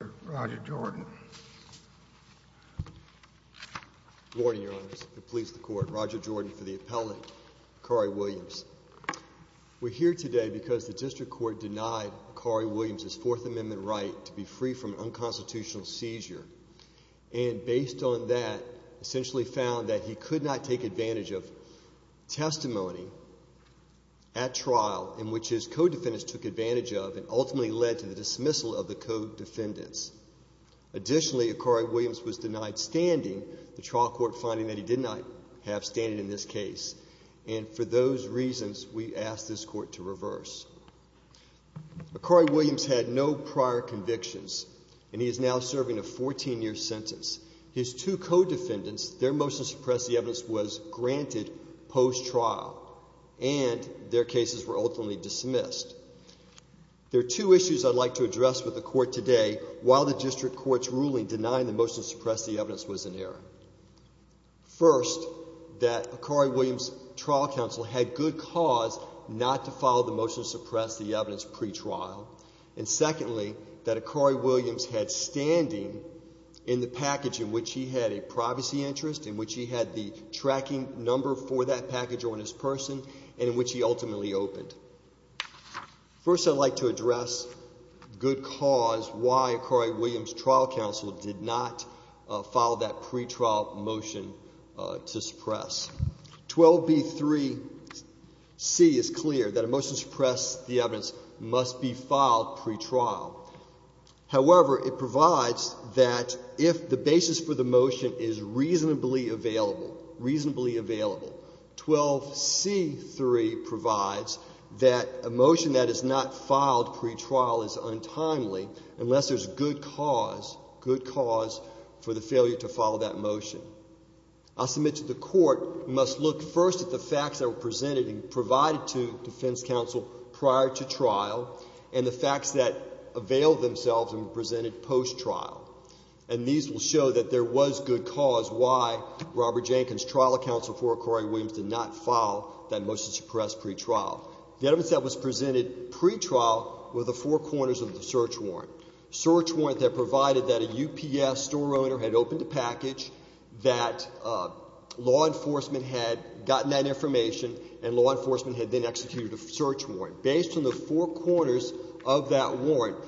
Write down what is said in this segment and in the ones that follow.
We're here today because the District Court denied Akari Williams his Fourth Amendment right to be free from unconstitutional seizure, and based on that, essentially found that he could not take advantage of testimony at trial in which his co-defendants took advantage of and ultimately led to the dismissal of the co-defendants. Additionally, Akari Williams was denied standing, the trial court finding that he did not have standing in this case, and for those reasons, we asked this court to reverse. Akari Williams had no prior convictions and he is now serving a 14-year sentence. His two co-defendants, their motion to suppress the evidence was granted post-trial and their cases were ultimately dismissed. There are two issues I'd like to address with the court today while the District Court's ruling denying the motion to suppress the evidence was in error. First, that Akari Williams' trial counsel had good cause not to file the motion to suppress the evidence pretrial, and secondly, that Akari Williams had standing in the package in which he had a privacy interest, in which he had the tracking number for that package on his person, and in which he ultimately opened. First, I'd like to address good cause why Akari Williams' trial counsel did not file that pretrial motion to suppress. 12b3c is clear, that a motion to suppress the evidence must be filed pretrial. However, it provides that if the basis for the motion is reasonably available, reasonably available. 12c3 provides that a motion that is not filed pretrial is untimely unless there's good cause, good cause for the failure to follow that motion. I submit to the court, you must look first at the facts that were presented and provided to defense counsel prior to trial and the facts that availed themselves and were presented post-trial. And these will show that there was good cause why Robert Jenkins' trial counsel for Akari Williams did not file that motion to suppress pretrial. The evidence that was presented pretrial were the four corners of the search warrant. Search warrant that provided that a UPS store owner had opened a package, that law enforcement had gotten that information, and law enforcement had then executed a search warrant. Based on the four corners of that warrant,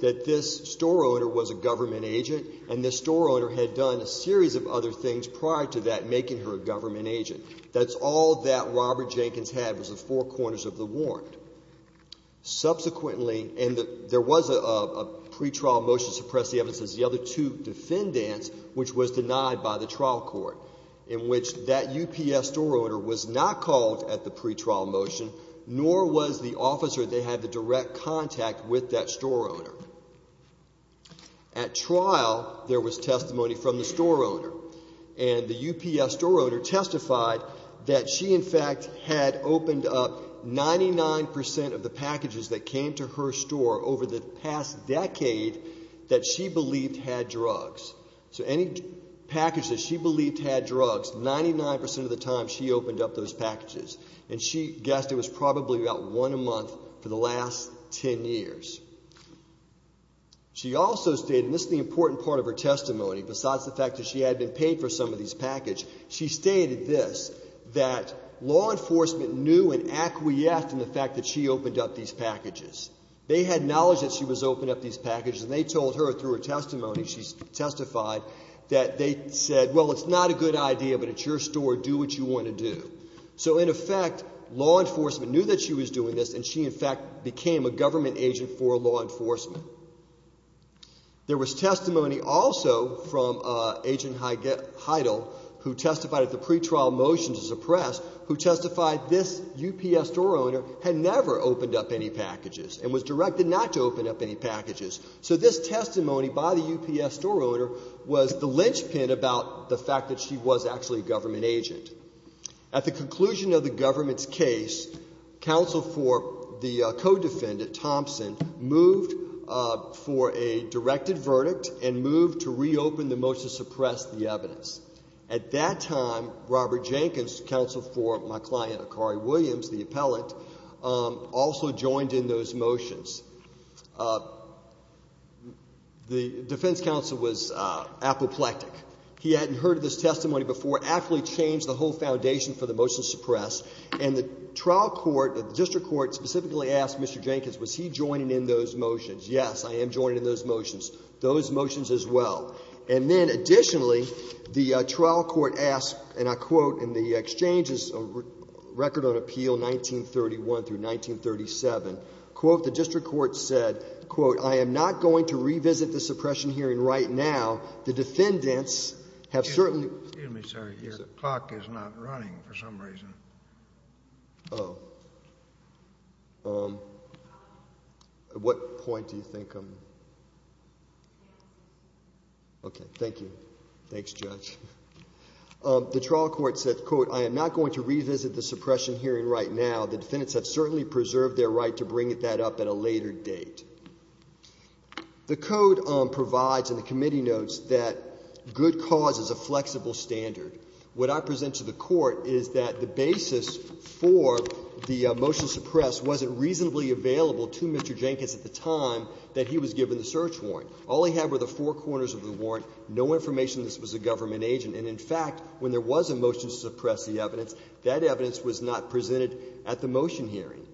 that this store owner was a government agent and this store owner had done a series of other things prior to that making her a government agent. That's all that Robert Jenkins had was the four corners of the warrant. Subsequently, and there was a pretrial motion to suppress the evidence, the other two defendants, which was denied by the trial court, in which that UPS store owner was not called at the pretrial motion, nor was the officer that had the direct contact with that store owner. At trial, there was testimony from the store owner. And the UPS store owner testified that she, in fact, had opened up 99% of the packages that came to her store over the past decade that she believed had drugs. So any package that she believed had drugs, 99% of the time she opened up those packages. And she guessed it was probably about one a month for the last 10 years. She also stated, and this is the important part of her testimony, besides the fact that she had been paid for some of these packages, she stated this, that law enforcement knew and acquiesced in the fact that she opened up these packages. They had knowledge that she was opening up these packages and they told her through her testimony, she testified, that they said, well, it's not a good idea, but it's your store, do what you want to do. So in effect, law enforcement knew that she was doing this and she, in fact, became a government agent for law enforcement. There was testimony also from Agent Heidel, who testified at the pretrial motion to suppress, who testified this UPS store owner had never opened up any packages and was directed not to open up any packages. So this testimony by the UPS store owner was the linchpin about the fact that she was actually a government agent. At the conclusion of the government's case, counsel for the co-defendant, Thompson, moved for a directed verdict and moved to reopen the motion to suppress the evidence. At that time, Robert Jenkins, counsel for my client, Akari Williams, the appellate, also joined in those motions. The defense counsel was apoplectic. He hadn't heard of this testimony before, actually changed the whole foundation for the motion to suppress. And the trial court, the district court, specifically asked Mr. Jenkins, was he joining in those motions? Yes, I am joining in those motions, those motions as well. And then additionally, the trial court asked, and I quote in the exchange's record on appeal 1931 through 1937, quote, the district court said, quote, I am not going to revisit the suppression hearing right now. The defendants have certainly... Excuse me, sir. Your clock is not running for some reason. Oh. What point do you think I'm... Okay, thank you. Thanks, Judge. The trial court said, quote, I am not going to revisit the suppression hearing right now. The defendants have certainly preserved their right to bring that up at a later date. The Code provides in the committee notes that good cause is a flexible standard. What I present to the Court is that the basis for the motion to suppress wasn't reasonably available to Mr. Jenkins at the time that he was given the search warrant. All he had were the four corners of the warrant, no information that this was a government agent. And in fact, when there was a motion to suppress the evidence, that evidence was not presented at the motion hearing.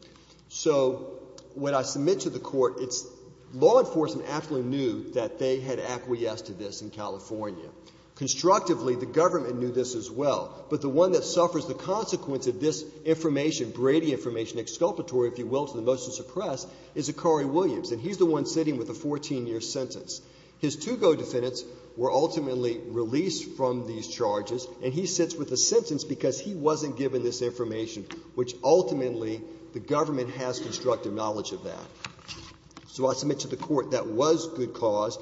So when I submit to the Court, it's law enforcement actually knew that they had acquiesced to this in California. Constructively, the government knew this as well. But the one that suffers the consequence of this information, Brady information, exculpatory, if you will, to the motion to suppress, is Zachary Williams, and he's the one sitting with a 14-year sentence. His two co-defendants were ultimately released from these charges, and he sits with a sentence because he wasn't given this information, which ultimately the government has constructive knowledge of that. So I submit to the Court that was good cause.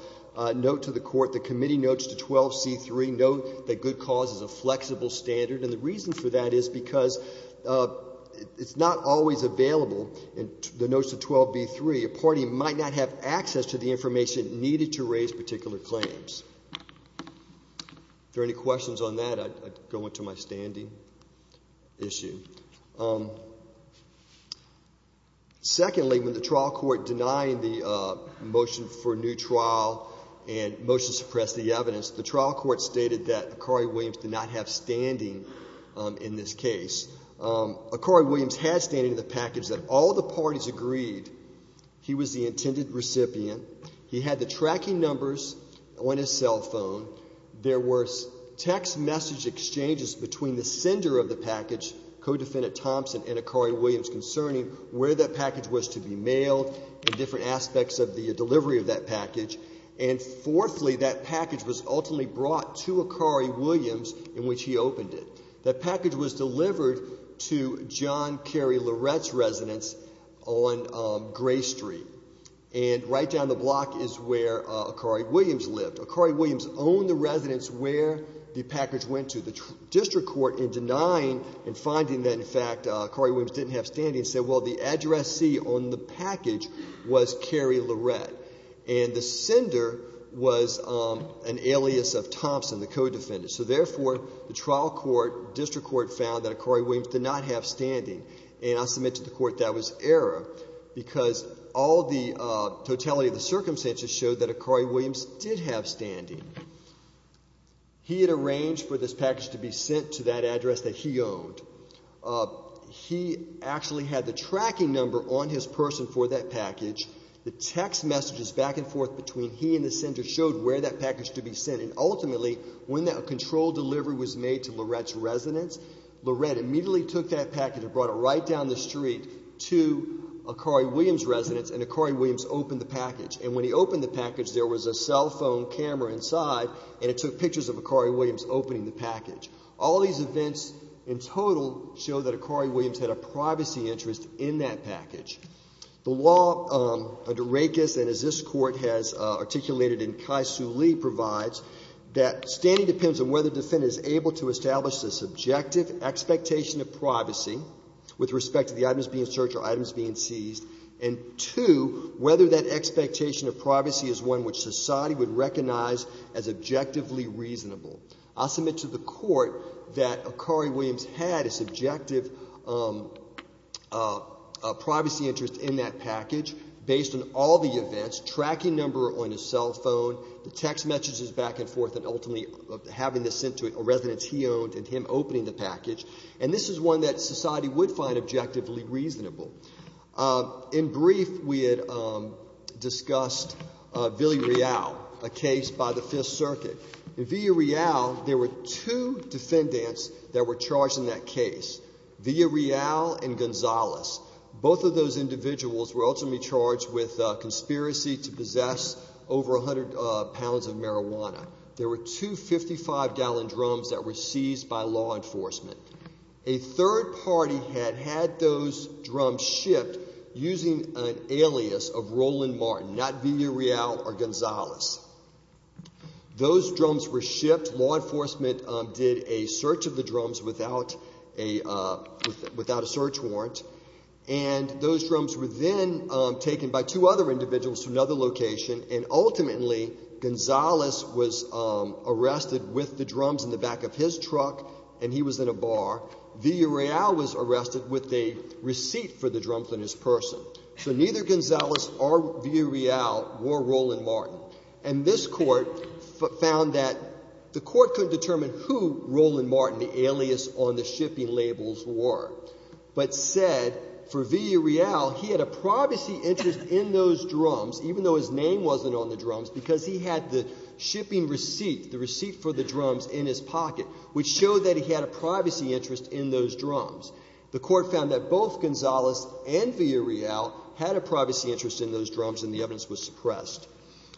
Note to the Court, the committee notes to 12c3, note that good cause is a flexible standard. And the reason for that is because it's not always available, in the notes to 12b3. A party might not have access to the information needed to raise particular claims. If there are any questions on that, I'd go into my standing issue. Secondly, when the trial court denied the motion for a new trial and motion to suppress the evidence, the trial court stated that Akari Williams did not have standing in this case. Akari Williams had standing in the package that all the parties agreed he was the intended recipient. He had the tracking numbers on his cell phone. There were text message exchanges between the sender of the package, co-defendant Thompson, and Akari Williams concerning where that package was to be mailed and different aspects of the delivery of that package. And fourthly, that package was ultimately brought to Akari Williams in which he opened it. That package was delivered to John Carey Lorette's residence on Gray Street, and that package right down the block is where Akari Williams lived. Akari Williams owned the residence where the package went to. The district court, in denying and finding that, in fact, Akari Williams didn't have standing, said, well, the addressee on the package was Carey Lorette. And the sender was an alias of Thompson, the co-defendant. So therefore, the trial court, district court found that Akari Williams did not have standing. And I submit to the court that was error, because all the totality of the circumstances showed that Akari Williams did have standing. He had arranged for this package to be sent to that address that he owned. He actually had the tracking number on his person for that package. The text messages back and forth between he and the sender showed where that package to be sent. And ultimately, when that controlled delivery was made to Lorette's residence, Lorette immediately took that package and brought it right down the street to Akari Williams' residence, and Akari Williams opened the package. And when he opened the package, there was a cell phone camera inside, and it took pictures of Akari Williams opening the package. All these events in total show that Akari Williams had a privacy interest in that package. The law under Rakes, and as this Court has articulated and Kai Soo Lee provides, that standing depends on whether the defendant is able to establish the subjective expectation of privacy with respect to the items being searched or items being seized, and two, whether that expectation of privacy is one which society would recognize as objectively reasonable. I submit to the court that Akari Williams had a subjective privacy interest in that package based on all the events, tracking number on his cell phone, the text messages back and forth, and ultimately having this sent to a residence he owned and him opening the package. And this is one that society would find objectively reasonable. In brief, we had discussed Villarreal, a case by the Fifth Circuit. In Villarreal, there were two defendants that were charged in that case, Villarreal and Gonzalez. Both of those individuals were ultimately charged with conspiracy to possess over 100 pounds of marijuana. There were two 55-gallon drums that were seized by law enforcement. A third party had had those drums shipped using an alias of Roland Martin, not Villarreal or Gonzalez. Those drums were shipped. Law enforcement did a search of the drums without a search warrant, and those drums were then taken by two other individuals to another location, and ultimately Gonzalez was arrested with the drums in the back of his truck, and he was in a bar. Villarreal was arrested with a receipt for the drums on his person. So neither Gonzalez or Villarreal wore Roland Martin. And this Court found that the Court couldn't determine who Roland Martin, the alias on the shipping labels, were, but said for Villarreal, he had a privacy interest in those drums, even though his name wasn't on the drums, because he had the shipping receipt, the receipt for the drums in his pocket, which showed that he had a privacy interest in those drums. The Court found that both Gonzalez and Villarreal had a privacy interest in those drums, and the evidence was suppressed.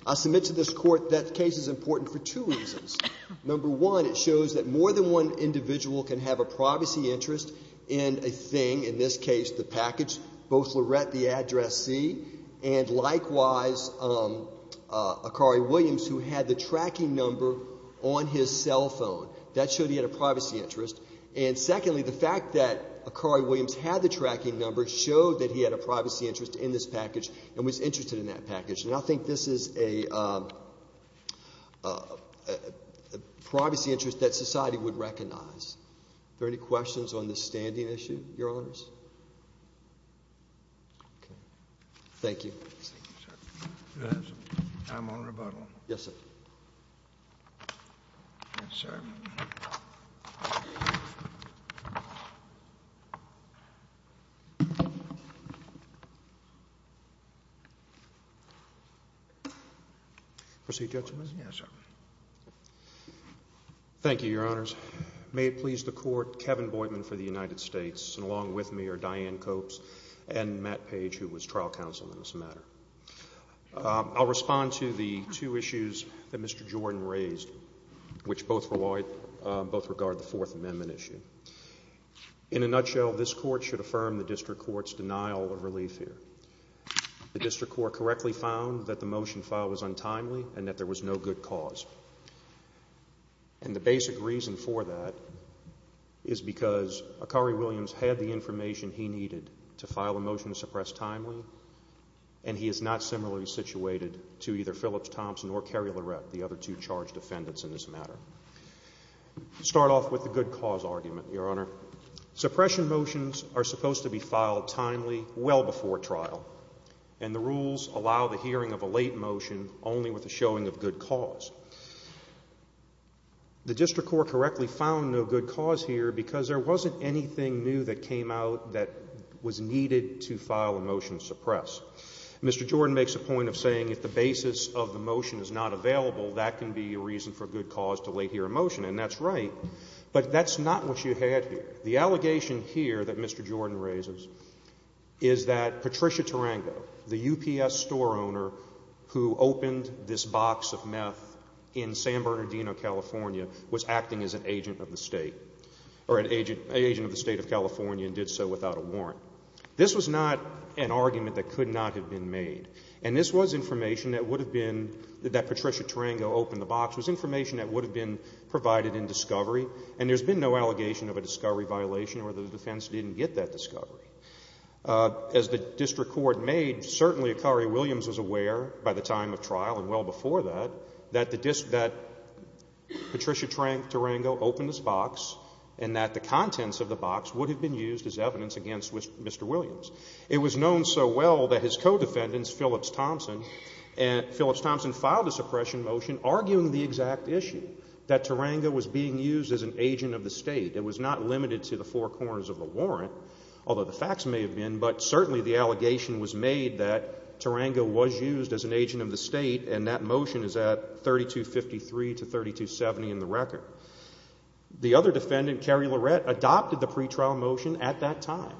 I submit to this Court that the case is important for two reasons. Number one, it shows that more than one individual can have a privacy interest in a thing, in this case the package, both Lorette, the addressee, and likewise Akari Williams, who had the tracking number on his cell phone. That showed he had a privacy interest. And secondly, the fact that Akari Williams had the tracking number showed that he had a privacy interest in this package and was interested in that package. And I think this is a privacy interest that society would recognize. Are there any questions on this standing issue, Your Honors? Thank you. I'm on rebuttal. Yes, sir. Yes, sir. Proceed, Judge Smith. Yes, sir. Thank you, Your Honors. May it please the Court, Kevin Boydman for the United States, and along with me are Diane Copes and Matt Page, who was trial counsel in this matter. I'll respond to the two issues that Mr. Jordan raised, which both regard the Fourth Amendment issue. In a nutshell, this Court should affirm the District Court's denial of relief here. The District Court correctly found that the motion filed was untimely and that there was no good cause. And the basic reason for that is because Akari Williams had the information he needed to file a motion to suppress timely, and he is not similarly situated to either Phillips, Thompson, or Carey Lorette, the other two charged defendants in this matter. Start off with the good cause argument, Your Honor. Suppression motions are supposed to be filed timely, well before trial, and the rules allow the hearing of a late motion only with a showing of good cause. The District Court correctly found no good cause here because there wasn't anything new that came out that was needed to file a motion to suppress. Mr. Jordan makes a point of saying if the basis of the motion is not available, that can be a reason for good cause to lay here a motion, and that's right, but that's not what you had here. The allegation here that Mr. Jordan raises is that Patricia Tarango, the UPS store owner who opened this box of meth in San Bernardino, California, was acting as an agent of the State, or an agent of the State of California, and did so without a warrant. This was not an argument that could not have been made, and this was information that would have been, that Patricia Tarango opened the box, was information that would have been provided in discovery, and there's been no allegation of a discovery violation or the defense didn't get that discovery. As the District Court made, certainly Akari Williams was aware by the time of trial and well before that, that Patricia Tarango opened this box and that the contents of the box would have been used as evidence against Mr. Williams. It was known so well that his co-defendants, Phillips Thompson, and Phillips Thompson filed a suppression motion arguing the exact issue, that Tarango was being used as an agent of the State. It was not limited to the four corners of the warrant, although the facts may have been, but certainly the allegation was made that Tarango was used as an agent of the State, and that motion is at 3253 to 3270 in the record. The other defendant, Carrie Lorette, adopted the pretrial motion at that time.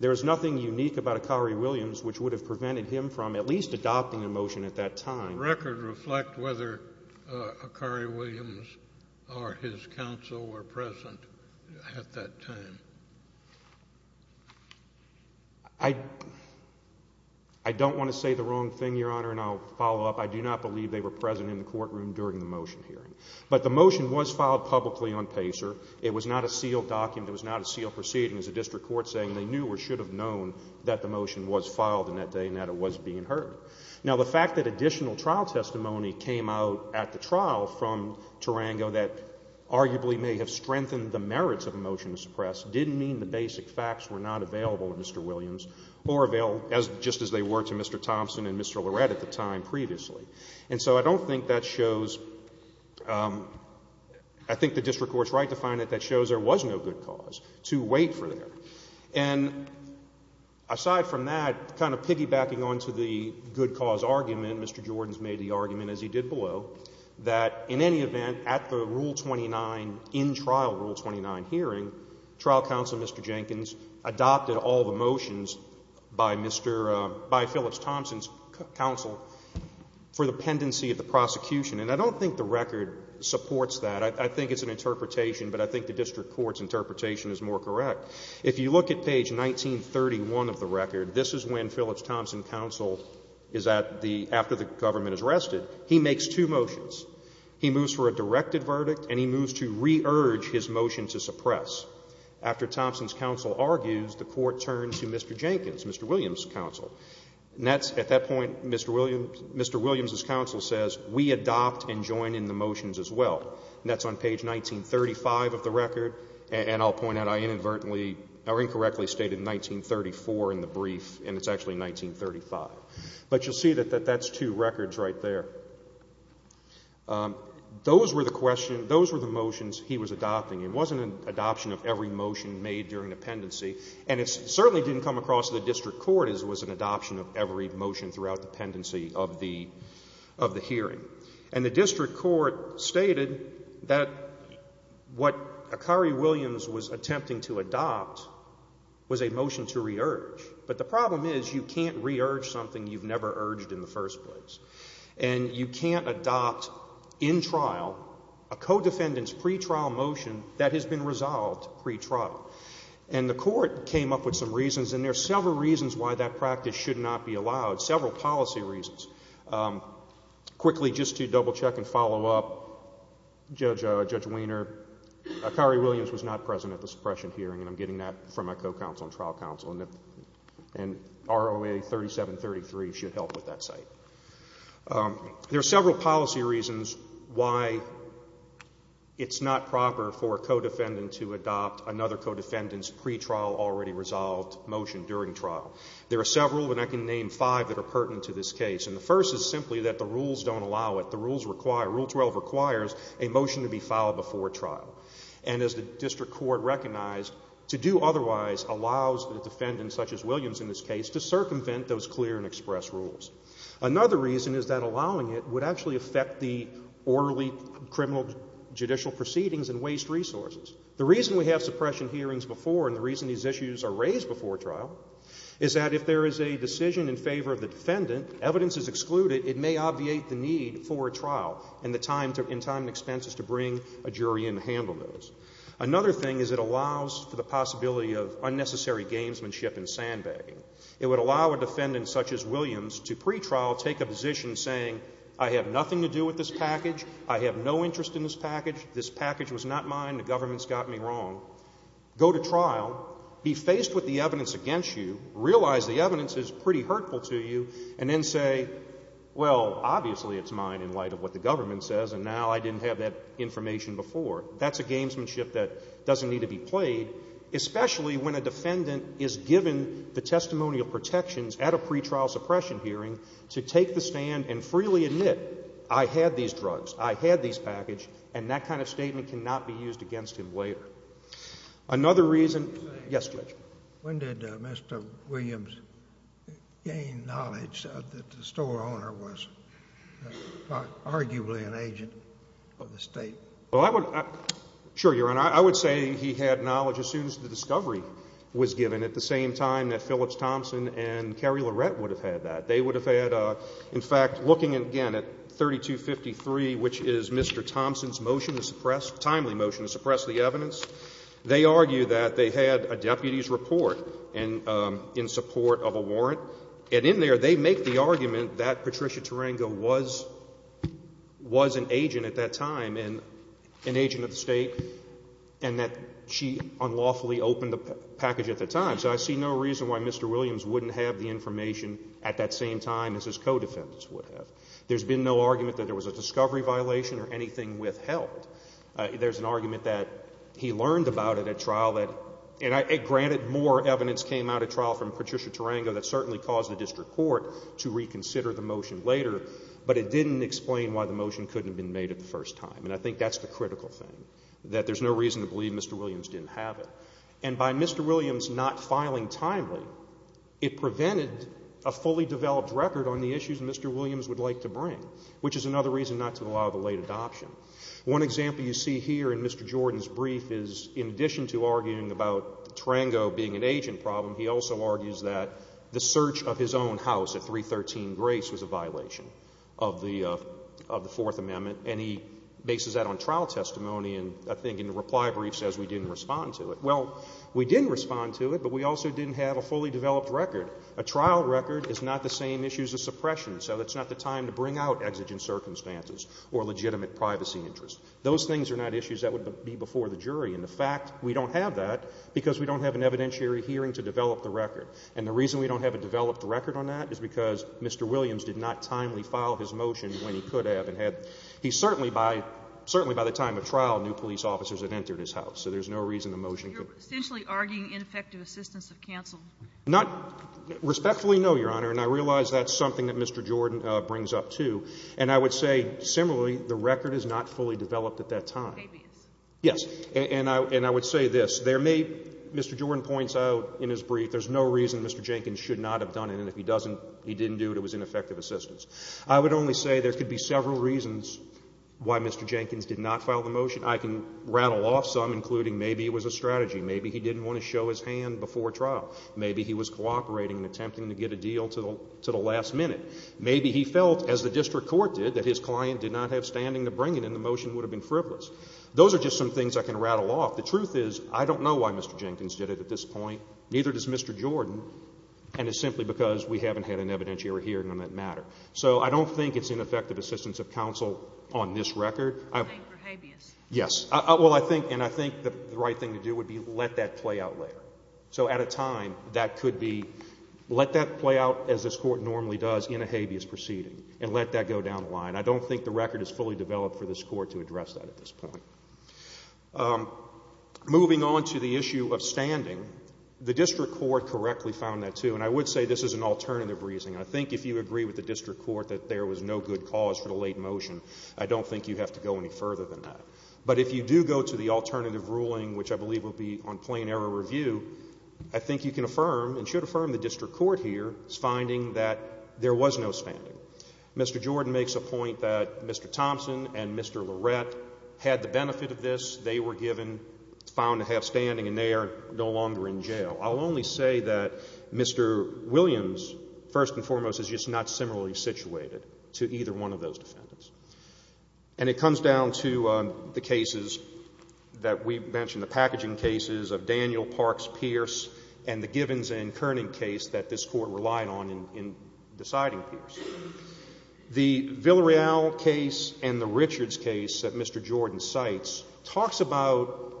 There is nothing unique about Akari Williams which would have prevented him from at least adopting the motion at that time. I don't want to say the wrong thing, Your Honor, and I'll follow up. I do not believe they were present in the courtroom during the motion hearing. But the motion was filed publicly on PACER. It was not a sealed document. It was not a sealed proceeding. It was a District Court saying they knew or should have known that the motion was filed in that day and that it was being heard. Now, the fact that additional trial testimony came out at the trial from Tarango that arguably may have strengthened the merits of a motion to suppress didn't mean the basic facts were not available to Mr. Williams or available just as they were to Mr. Thompson and Mr. Lorette at the time previously. And so I don't think that shows, I think the District Court's right to find that that shows there was no good cause to wait for there. And aside from that, kind of piggybacking on to the good below, that in any event, at the Rule 29, in-trial Rule 29 hearing, trial counsel, Mr. Jenkins, adopted all the motions by Mr. — by Phillips-Thompson's counsel for the pendency of the prosecution. And I don't think the record supports that. I think it's an interpretation, but I think the District Court's interpretation is more correct. If you look at page 1931 of the record, this is when Phillips-Thompson counsel is at the — after the government is arrested, he makes two motions. He moves for a directed verdict, and he moves to re-urge his motion to suppress. After Thompson's counsel argues, the Court turns to Mr. Jenkins, Mr. Williams' counsel. And that's — at that point, Mr. Williams' counsel says, we adopt and join in the motions as well. And that's on page 1935 of the record, and I'll point out I inadvertently — or incorrectly stated 1934 in the brief, and it's actually 1935. But you'll see that that's two records right there. Those were the questions — those were the motions he was adopting. It wasn't an adoption of every motion made during the pendency, and it certainly didn't come across to the District Court as it was an adoption of every motion throughout the pendency of the hearing. And the District Court stated that what Akari Williams was attempting to adopt was a motion to re-urge. But the problem is you can't re-urge something you've never urged in the first place. And you can't adopt in trial a co-defendant's pretrial motion that has been resolved pretrial. And the Court came up with some reasons, and there are several reasons why that practice should not be allowed, several policy reasons. Quickly, just to double-check and follow up, Judge Weiner, Akari Williams was not present at the suppression hearing, and I'm getting that from my co-counsel and trial counsel. And ROA 3733 should help with that site. There are several policy reasons why it's not proper for a co-defendant to adopt another co-defendant's pretrial already-resolved motion during trial. There are several, and I can name five, that are pertinent to this case. And the first is simply that the rules don't allow it. The rules require — Rule 12 requires a motion to be filed before trial. And as the District Court recognized, to do otherwise allows the defendant, such as Williams in this case, to circumvent those clear and express rules. Another reason is that allowing it would actually affect the orderly criminal judicial proceedings and waste resources. The reason we have suppression hearings before, and the reason these issues are raised before trial, is that if there is a decision in favor of the defendant, evidence is excluded, it may obviate the need for a trial, and the time and expense is to bring a jury in to handle those. Another thing is it allows for the possibility of unnecessary gamesmanship and sandbagging. It would allow a defendant, such as Williams, to pretrial take a position saying, I have nothing to do with this package, I have no interest in this package, this package was not mine, the government's got me wrong. Go to trial, be faced with the evidence against you, realize the evidence is pretty hurtful to you, and then say, well, obviously it's not mine in light of what the government says, and now I didn't have that information before. That's a gamesmanship that doesn't need to be played, especially when a defendant is given the testimonial protections at a pretrial suppression hearing to take the stand and freely admit, I had these drugs, I had these package, and that kind of statement cannot be used against him later. Another reason, yes, Judge. When did Mr. Williams gain knowledge that the store owner was arguably an agent of the State? Well, I would, sure, Your Honor, I would say he had knowledge as soon as the discovery was given, at the same time that Phillips Thompson and Carrie Lorette would have had that. They would have had, in fact, looking again at 3253, which is Mr. Thompson's motion to suppress, timely motion to suppress the evidence. They argue that they had a deputy's report and in support of a warrant, and in there they make the argument that Patricia Tarango was an agent at that time and an agent of the State, and that she unlawfully opened the package at the time. So I see no reason why Mr. Williams wouldn't have the information at that same time as his co-defendants would have. There's been no argument that there was a discovery violation or anything withheld. There's an argument that he learned about it at trial that, and granted more evidence came out at trial from Patricia Tarango that certainly caused the district court to reconsider the motion later, but it didn't explain why the motion couldn't have been made at the first time. And I think that's the critical thing, that there's no reason to believe Mr. Williams didn't have it. And by Mr. Williams not filing timely, it prevented a fully developed record on the is another reason not to allow the late adoption. One example you see here in Mr. Jordan's brief is in addition to arguing about Tarango being an agent problem, he also argues that the search of his own house at 313 Grace was a violation of the Fourth Amendment, and he bases that on trial testimony, and I think in the reply brief says we didn't respond to it. Well, we didn't respond to it, but we also didn't have a fully developed record. A trial record is not the same issue as a suppression, so that's not the time to bring out exigent circumstances or legitimate privacy interests. Those things are not issues that would be before the jury, and the fact we don't have that because we don't have an evidentiary hearing to develop the record. And the reason we don't have a developed record on that is because Mr. Williams did not timely file his motion when he could have and had. He certainly by the time of trial, new police officers had entered his house, so there's no reason the motion couldn't have been made. So you're essentially arguing ineffective assistance of counsel? Respectfully, no, Your Honor, and I realize that's something that Mr. Jordan brings up, too. And I would say, similarly, the record is not fully developed at that time. It may be. Yes. And I would say this. There may, Mr. Jordan points out in his brief, there's no reason Mr. Jenkins should not have done it, and if he doesn't, he didn't do it, it was ineffective assistance. I would only say there could be several reasons why Mr. Jenkins did not file the motion. I can rattle off some, including maybe it was a coincidence, maybe he was cooperating and attempting to get a deal to the last minute. Maybe he felt, as the district court did, that his client did not have standing to bring it and the motion would have been frivolous. Those are just some things I can rattle off. The truth is, I don't know why Mr. Jenkins did it at this point, neither does Mr. Jordan, and it's simply because we haven't had an evidentiary hearing on that matter. So I don't think it's ineffective assistance of counsel on this record. You're playing for habeas. Yes. Well, I think, and I think the right thing to do would be let that play out later. So at a time, that could be, let that play out as this Court normally does in a habeas proceeding, and let that go down the line. I don't think the record is fully developed for this Court to address that at this point. Moving on to the issue of standing, the district court correctly found that too, and I would say this is an alternative reasoning. I think if you agree with the district court that there was no good cause for the late motion, I don't think you have to go any further than that. But if you do go to the alternative ruling, which I believe will be on plain error review, I think you can affirm and should affirm the district court here is finding that there was no standing. Mr. Jordan makes a point that Mr. Thompson and Mr. Lorette had the benefit of this. They were given, found to have standing, and they are no longer in jail. I'll only say that Mr. Williams, first and foremost, is just not similarly situated to either one of those defendants. And it comes down to the cases that we mentioned, the packaging cases of Daniel, Parks, Pierce, and the Givens and Kerning case that this Court relied on in deciding Pierce. The Villarreal case and the Richards case that Mr. Jordan cites talks about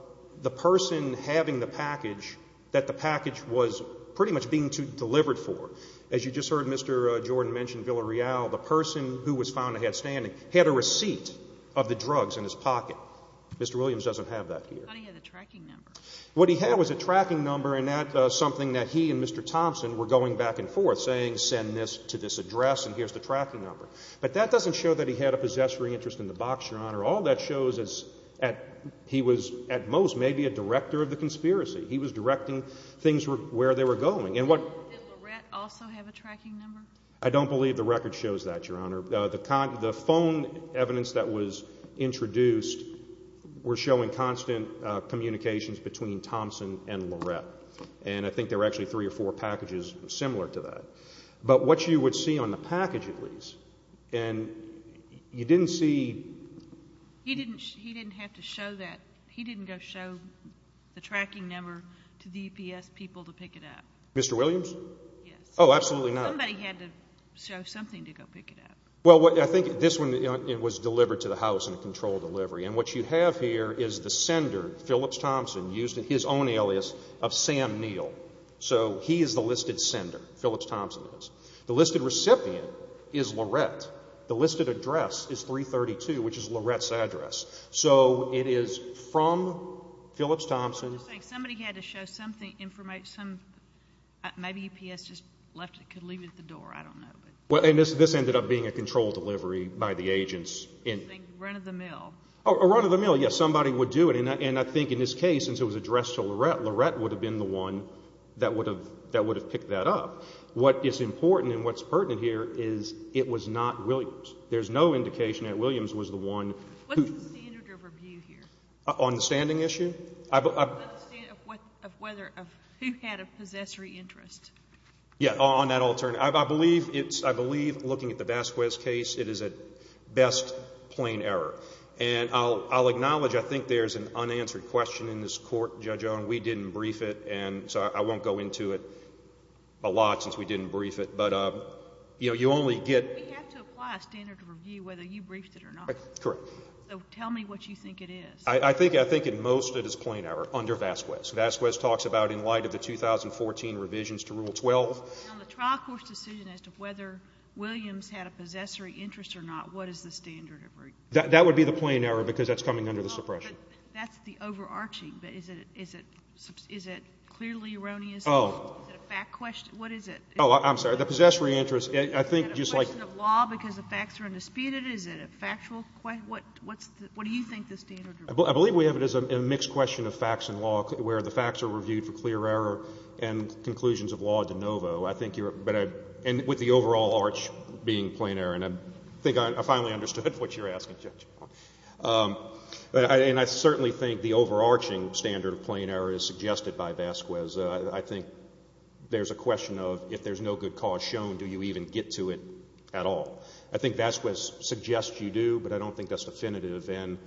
the person having the package that the package was pretty much being delivered for. As you just heard Mr. Jordan mention Villarreal, the person who was found to have standing had a receipt of the drugs in his pocket. Mr. Williams doesn't have that here. I thought he had a tracking number. What he had was a tracking number, and that was something that he and Mr. Thompson were going back and forth saying, send this to this address and here's the tracking number. But that doesn't show that he had a possessory interest in the box, Your Honor. All that shows is he was at most maybe a director of the conspiracy. He was directing things where they were going. Didn't Mr. Lorette also have a tracking number? I don't believe the record shows that, Your Honor. The phone evidence that was introduced were showing constant communications between Thompson and Lorette, and I think there were actually three or four packages similar to that. But what you would see on the package, at least, and you didn't see He didn't have to show that. He didn't go show the tracking number to the EPS people to pick it up. Mr. Williams? Yes. Oh, absolutely not. Somebody had to show something to go pick it up. Well, I think this one was delivered to the house in a controlled delivery, and what you have here is the sender, Phillips Thompson, used his own alias of Sam Neal. So he is the listed sender. Phillips Thompson is. The listed recipient is Lorette. The listed address is 332, which is Lorette's address. So it is from Phillips Thompson. Somebody had to show something, maybe EPS just left it, could leave it at the door. I don't know. This ended up being a controlled delivery by the agents. A run of the mill. A run of the mill, yes. Somebody would do it. And I think in this case, since it was addressed to Lorette, Lorette would have been the one that would have picked that up. What is important and what is pertinent here is it was not Williams. There is no indication that Williams was the one who What is the standard of review here? On the standing issue? The standard of who had a possessory interest. Yes, on that alternative. I believe looking at the Vasquez case, it is at best plain error. And I'll acknowledge I think there is an unanswered question in this court, Judge Owen. We didn't brief it, and so I won't go into it a lot since we didn't brief it. But you only get We have to apply a standard of review whether you briefed it or not. Correct. So tell me what you think it is. I think in most it is plain error under Vasquez. Vasquez talks about in light of the 2014 revisions to Rule 12. On the trial court's decision as to whether Williams had a possessory interest or not, what is the standard of review? That would be the plain error because that's coming under the suppression. But that's the overarching. But is it clearly erroneous? Oh. Is it a fact question? What is it? Oh, I'm sorry. The possessory interest, I think just like Is it a question of law because the facts are undisputed? Is it a factual question? What do you think the standard of review is? I believe we have it as a mixed question of facts and law where the facts are reviewed for clear error and conclusions of law de novo. I think you're And with the overall arch being plain error. And I think I finally understood what you're asking, Judge. And I certainly think the overarching standard of plain error is suggested by Vasquez. I think there's a question of if there's no good cause shown, do you even get to it at all? I think Vasquez suggests you do, but I don't think that's definitive. And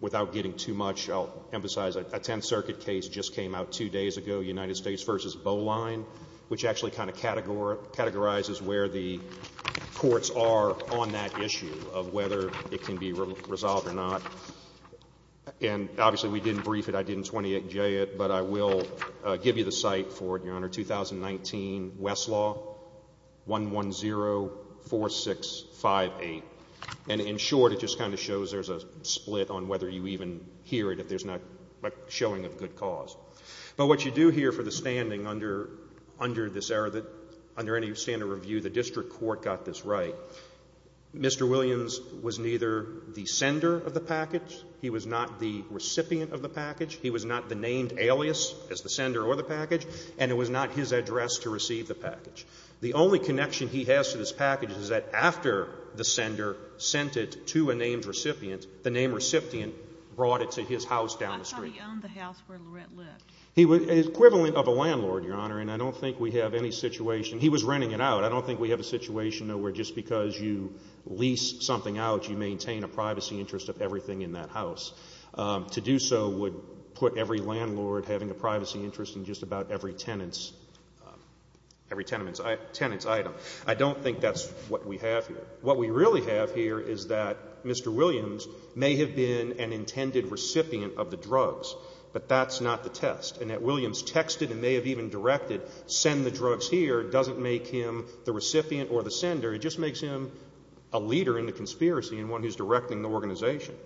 without getting too much, I'll emphasize a Tenth Circuit case just came out two days ago, United States v. Bowline, which actually kind of categorizes where the courts are on that issue of whether it can be resolved or not. And obviously, we didn't brief it. I didn't 28J it. But I will give you the site for it, Your Honor. 2019 Westlaw 1104658. And in short, it just kind of shows there's a split on whether you even hear it, if there's not a showing of good cause. But what you do hear for the standing under this error that under any standard of review, the district court got this right. Mr. Williams was neither the sender of the package. He was not the recipient of the package. He was not the named alias as the sender or the package. And it was not his address to receive the package. The only connection he has to this package is that after the sender sent it to a named recipient, the named recipient brought it to his house down the street. How come he owned the house where Lorette lived? An equivalent of a landlord, Your Honor, and I don't think we have any situation. He was renting it out. I don't think we have a situation, though, where just because you lease something out, you maintain a privacy interest of everything in that house. To do so would put every landlord having a privacy interest in just about every tenant's item. I don't think that's what we have here. What we really have here is that Mr. Williams may have been an intended recipient of the drugs, but that's not the test, and that Williams texted and may have even directed send the drugs here doesn't make him the recipient or the sender. It just makes him a leader in the conspiracy and one who's directing the organization.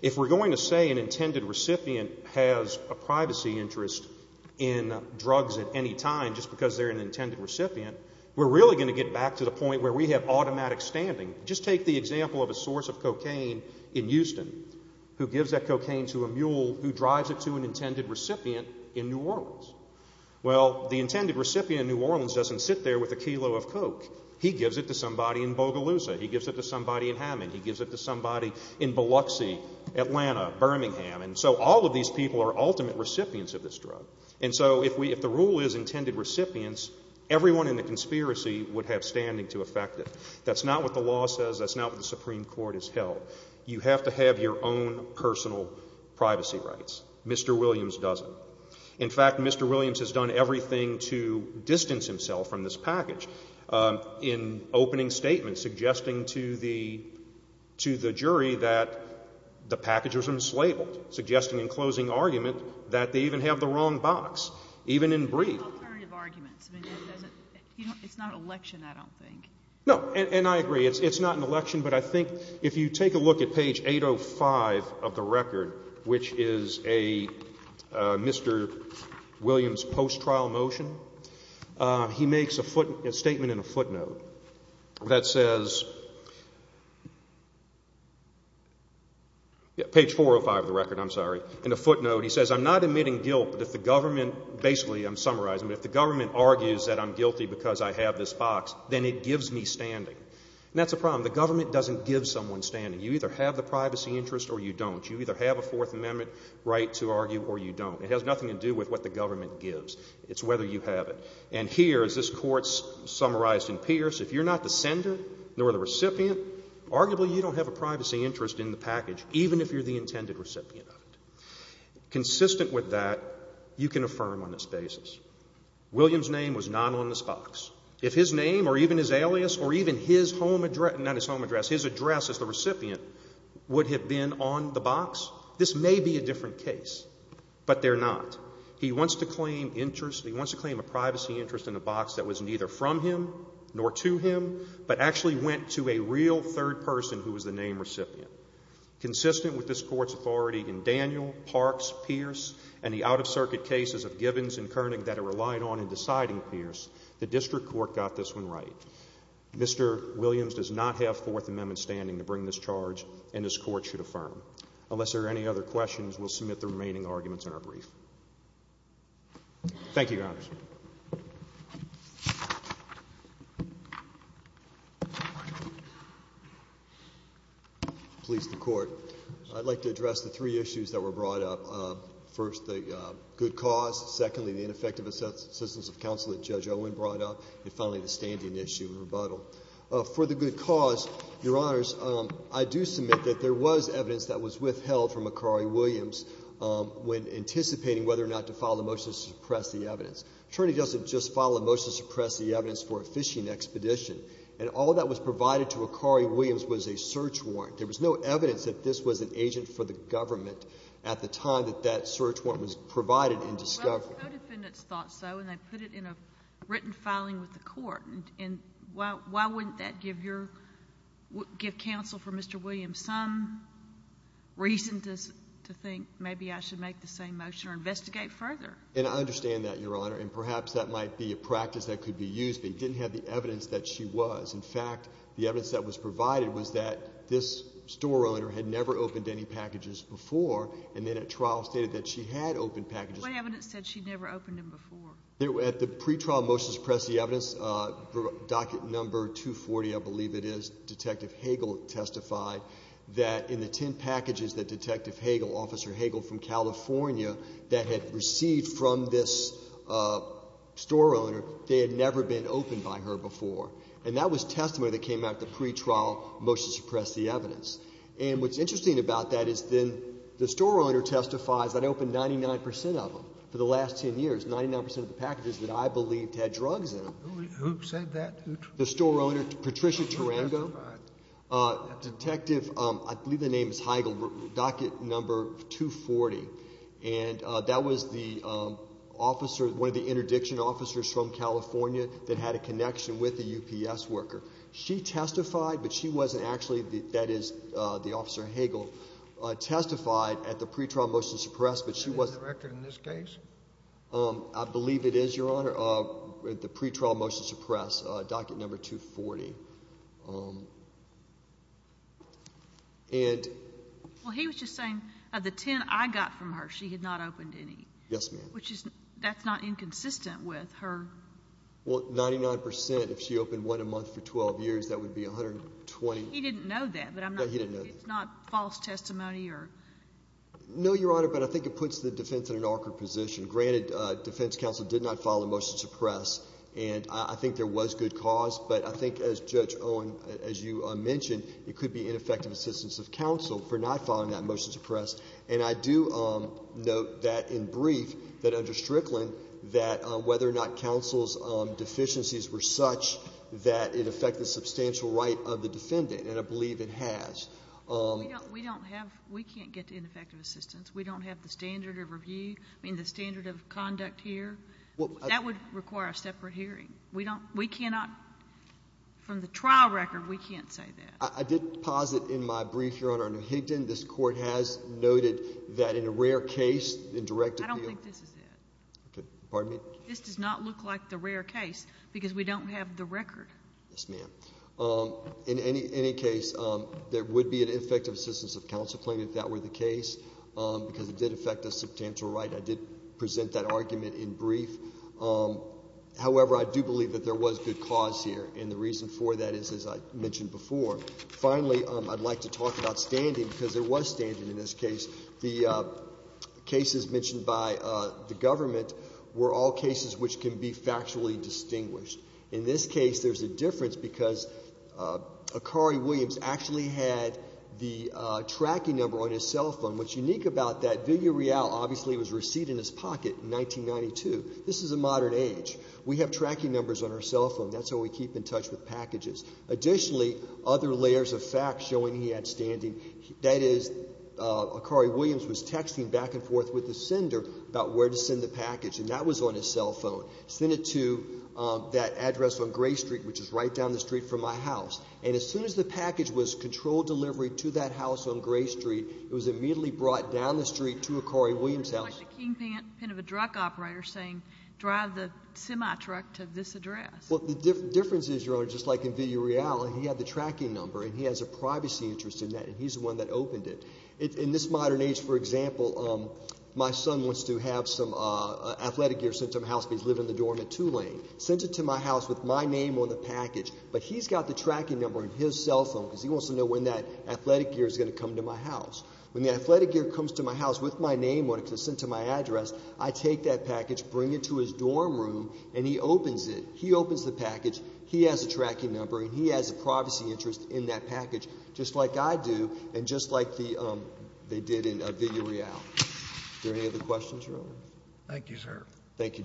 If we're going to say an intended recipient has a privacy interest in drugs at any time just because they're an intended recipient, we're really going to get back to the point where we have automatic standing. Just take the example of a source of cocaine in Houston who gives that cocaine to a mule who drives it to an intended recipient in New Orleans. Well, the intended recipient in New Orleans doesn't sit there with a kilo of coke. He gives it to somebody in Bogalusa. He gives it to somebody in Hamming. He gives it to somebody in Biloxi, Atlanta, Birmingham. And so all of these people are ultimate recipients of this drug. And so if the rule is intended recipients, everyone in the conspiracy would have standing to affect it. That's not what the law says. That's not what the Supreme Court has held. You have to have your own personal privacy rights. Mr. Williams doesn't. In fact, Mr. Williams has done everything to distance himself from this package in opening statements suggesting to the jury that the package was enslaved, suggesting in closing argument that they even have the wrong box, even in brief. Alternative arguments. It's not an election, I don't think. No, and I agree. It's not an election. But I think if you take a look at page 805 of the record, which is a Mr. Williams post-trial motion, he makes a statement in a footnote that says, page 405 of the record, I'm sorry, in a footnote, he says, I'm not admitting guilt, but if the government, basically I'm summarizing, but if the government argues that I'm guilty because I have this box, then it gives me standing. And that's a problem. The government doesn't give someone standing. You either have the privacy interest or you don't. You either have a Fourth Amendment right to argue or you don't. It has nothing to do with what the government gives. It's whether you have it. And here, as this Court summarized in Pierce, if you're not the sender nor the recipient, arguably you don't have a privacy interest in the package, even if you're the intended recipient of it. Consistent with that, you can affirm on this basis, Williams' name was not on this box. If his name or even his alias or even his home address, not his home address, his address as the recipient would have been on the box, this may be a different case. But they're not. He wants to claim a privacy interest in a box that was neither from him nor to him but actually went to a real third person who was the name recipient. Consistent with this Court's authority in Daniel, Parks, Pierce, and the out-of-circuit cases of Gibbons and Koerning that it relied on in deciding Pierce, the District Court got this one right. Mr. Williams does not have Fourth Amendment standing to bring this charge, and this Court should affirm. Unless there are any other questions, we'll submit the remaining arguments in our brief. Thank you, Your Honors. Please, the Court. I'd like to address the three issues that were brought up. First, the good cause. Secondly, the ineffective assistance of counsel that Judge Owen brought up. And finally, the standing issue and rebuttal. For the good cause, Your Honors, I do submit that there was evidence that was withheld from Akari Williams when anticipating whether or not to file a motion to suppress the evidence. The attorney doesn't just file a motion to suppress the evidence for a fishing expedition. And all that was provided to Akari Williams was a search warrant. There was no evidence that this was an agent for the government at the time that that search warrant was provided in discovery. Well, the co-defendants thought so, and they put it in a written filing with the Court. And why wouldn't that give counsel for Mr. Williams some reason to think maybe I should make the same motion or investigate further? And I understand that, Your Honor. And perhaps that might be a practice that could be used, but you didn't have the evidence that she was. In fact, the evidence that was provided was that this store owner had never opened any packages before, and then at trial stated that she had opened packages before. What evidence said she'd never opened them before? At the pretrial motion to suppress the evidence, docket number 240, I believe it is, Detective Hagel testified that in the 10 packages that Detective Hagel, Officer Hagel from California, that had received from this store owner, they had never been opened by her before. And that was testimony that came out at the pretrial motion to suppress the evidence. And what's interesting about that is then the store owner testifies that opened 99 percent of them for the last 10 years, 99 percent of the packages that I believed had drugs in them. Who said that? The store owner, Patricia Tarango. Who testified? Detective, I believe the name is Hagel, docket number 240. And that was the officer, one of the interdiction officers from California that had a connection with a UPS worker. She testified, but she wasn't actually, that is, the Officer Hagel testified at the pretrial motion to suppress, but she wasn't. Is that the record in this case? I believe it is, Your Honor. At the pretrial motion to suppress, docket number 240. Well, he was just saying of the 10 I got from her, she had not opened any. Yes, ma'am. Which is, that's not inconsistent with her. Well, 99 percent, if she opened one a month for 12 years, that would be 120. He didn't know that. No, he didn't know that. It's not false testimony or? No, Your Honor, but I think it puts the defense in an awkward position. Granted, defense counsel did not file a motion to suppress, and I think there was good cause, but I think, as Judge Owen, as you mentioned, it could be ineffective assistance of counsel for not filing that motion to suppress. And I do note that in brief, that under Strickland, that whether or not counsel's deficiencies were such that it affected the substantial right of the defendant, and I believe it has. We don't have, we can't get to ineffective assistance. We don't have the standard of review, I mean, the standard of conduct here. That would require a separate hearing. We cannot, from the trial record, we can't say that. I did posit in my brief, Your Honor, under Higdon, this Court has noted that in a rare case, indirectly. I don't think this is it. Pardon me? This does not look like the rare case because we don't have the record. Yes, ma'am. In any case, there would be an ineffective assistance of counsel claim if that were the case because it did affect the substantial right. I did present that argument in brief. However, I do believe that there was good cause here, and the reason for that is, as I mentioned before. Finally, I'd like to talk about standing because there was standing in this case. The cases mentioned by the government were all cases which can be factually distinguished. In this case, there's a difference because Akari Williams actually had the tracking number on his cell phone. What's unique about that, Viggo Rial obviously was received in his pocket in 1992. This is a modern age. We have tracking numbers on our cell phone. That's how we keep in touch with packages. Additionally, other layers of fact showing he had standing, that is, Akari Williams was texting back and forth with the sender about where to send the package, and that was on his cell phone. Send it to that address on Gray Street, which is right down the street from my house. And as soon as the package was controlled delivery to that house on Gray Street, it was immediately brought down the street to Akari Williams' house. It's like the kingpin of a truck operator saying drive the semi-truck to this address. Well, the difference is, Your Honor, just like in Viggo Rial, he had the tracking number, and he has a privacy interest in that, and he's the one that opened it. In this modern age, for example, my son wants to have some athletic gear sent to my house because he's living in the dorm at Tulane. Sent it to my house with my name on the package, but he's got the tracking number on his cell phone because he wants to know when that athletic gear is going to come to my house. When the athletic gear comes to my house with my name on it because it's sent to my address, I take that package, bring it to his dorm room, and he opens it. He opens the package. He has a tracking number, and he has a privacy interest in that package just like I do and just like they did in Viggo Rial. Are there any other questions, Your Honor? Thank you, sir. Thank you, Justice.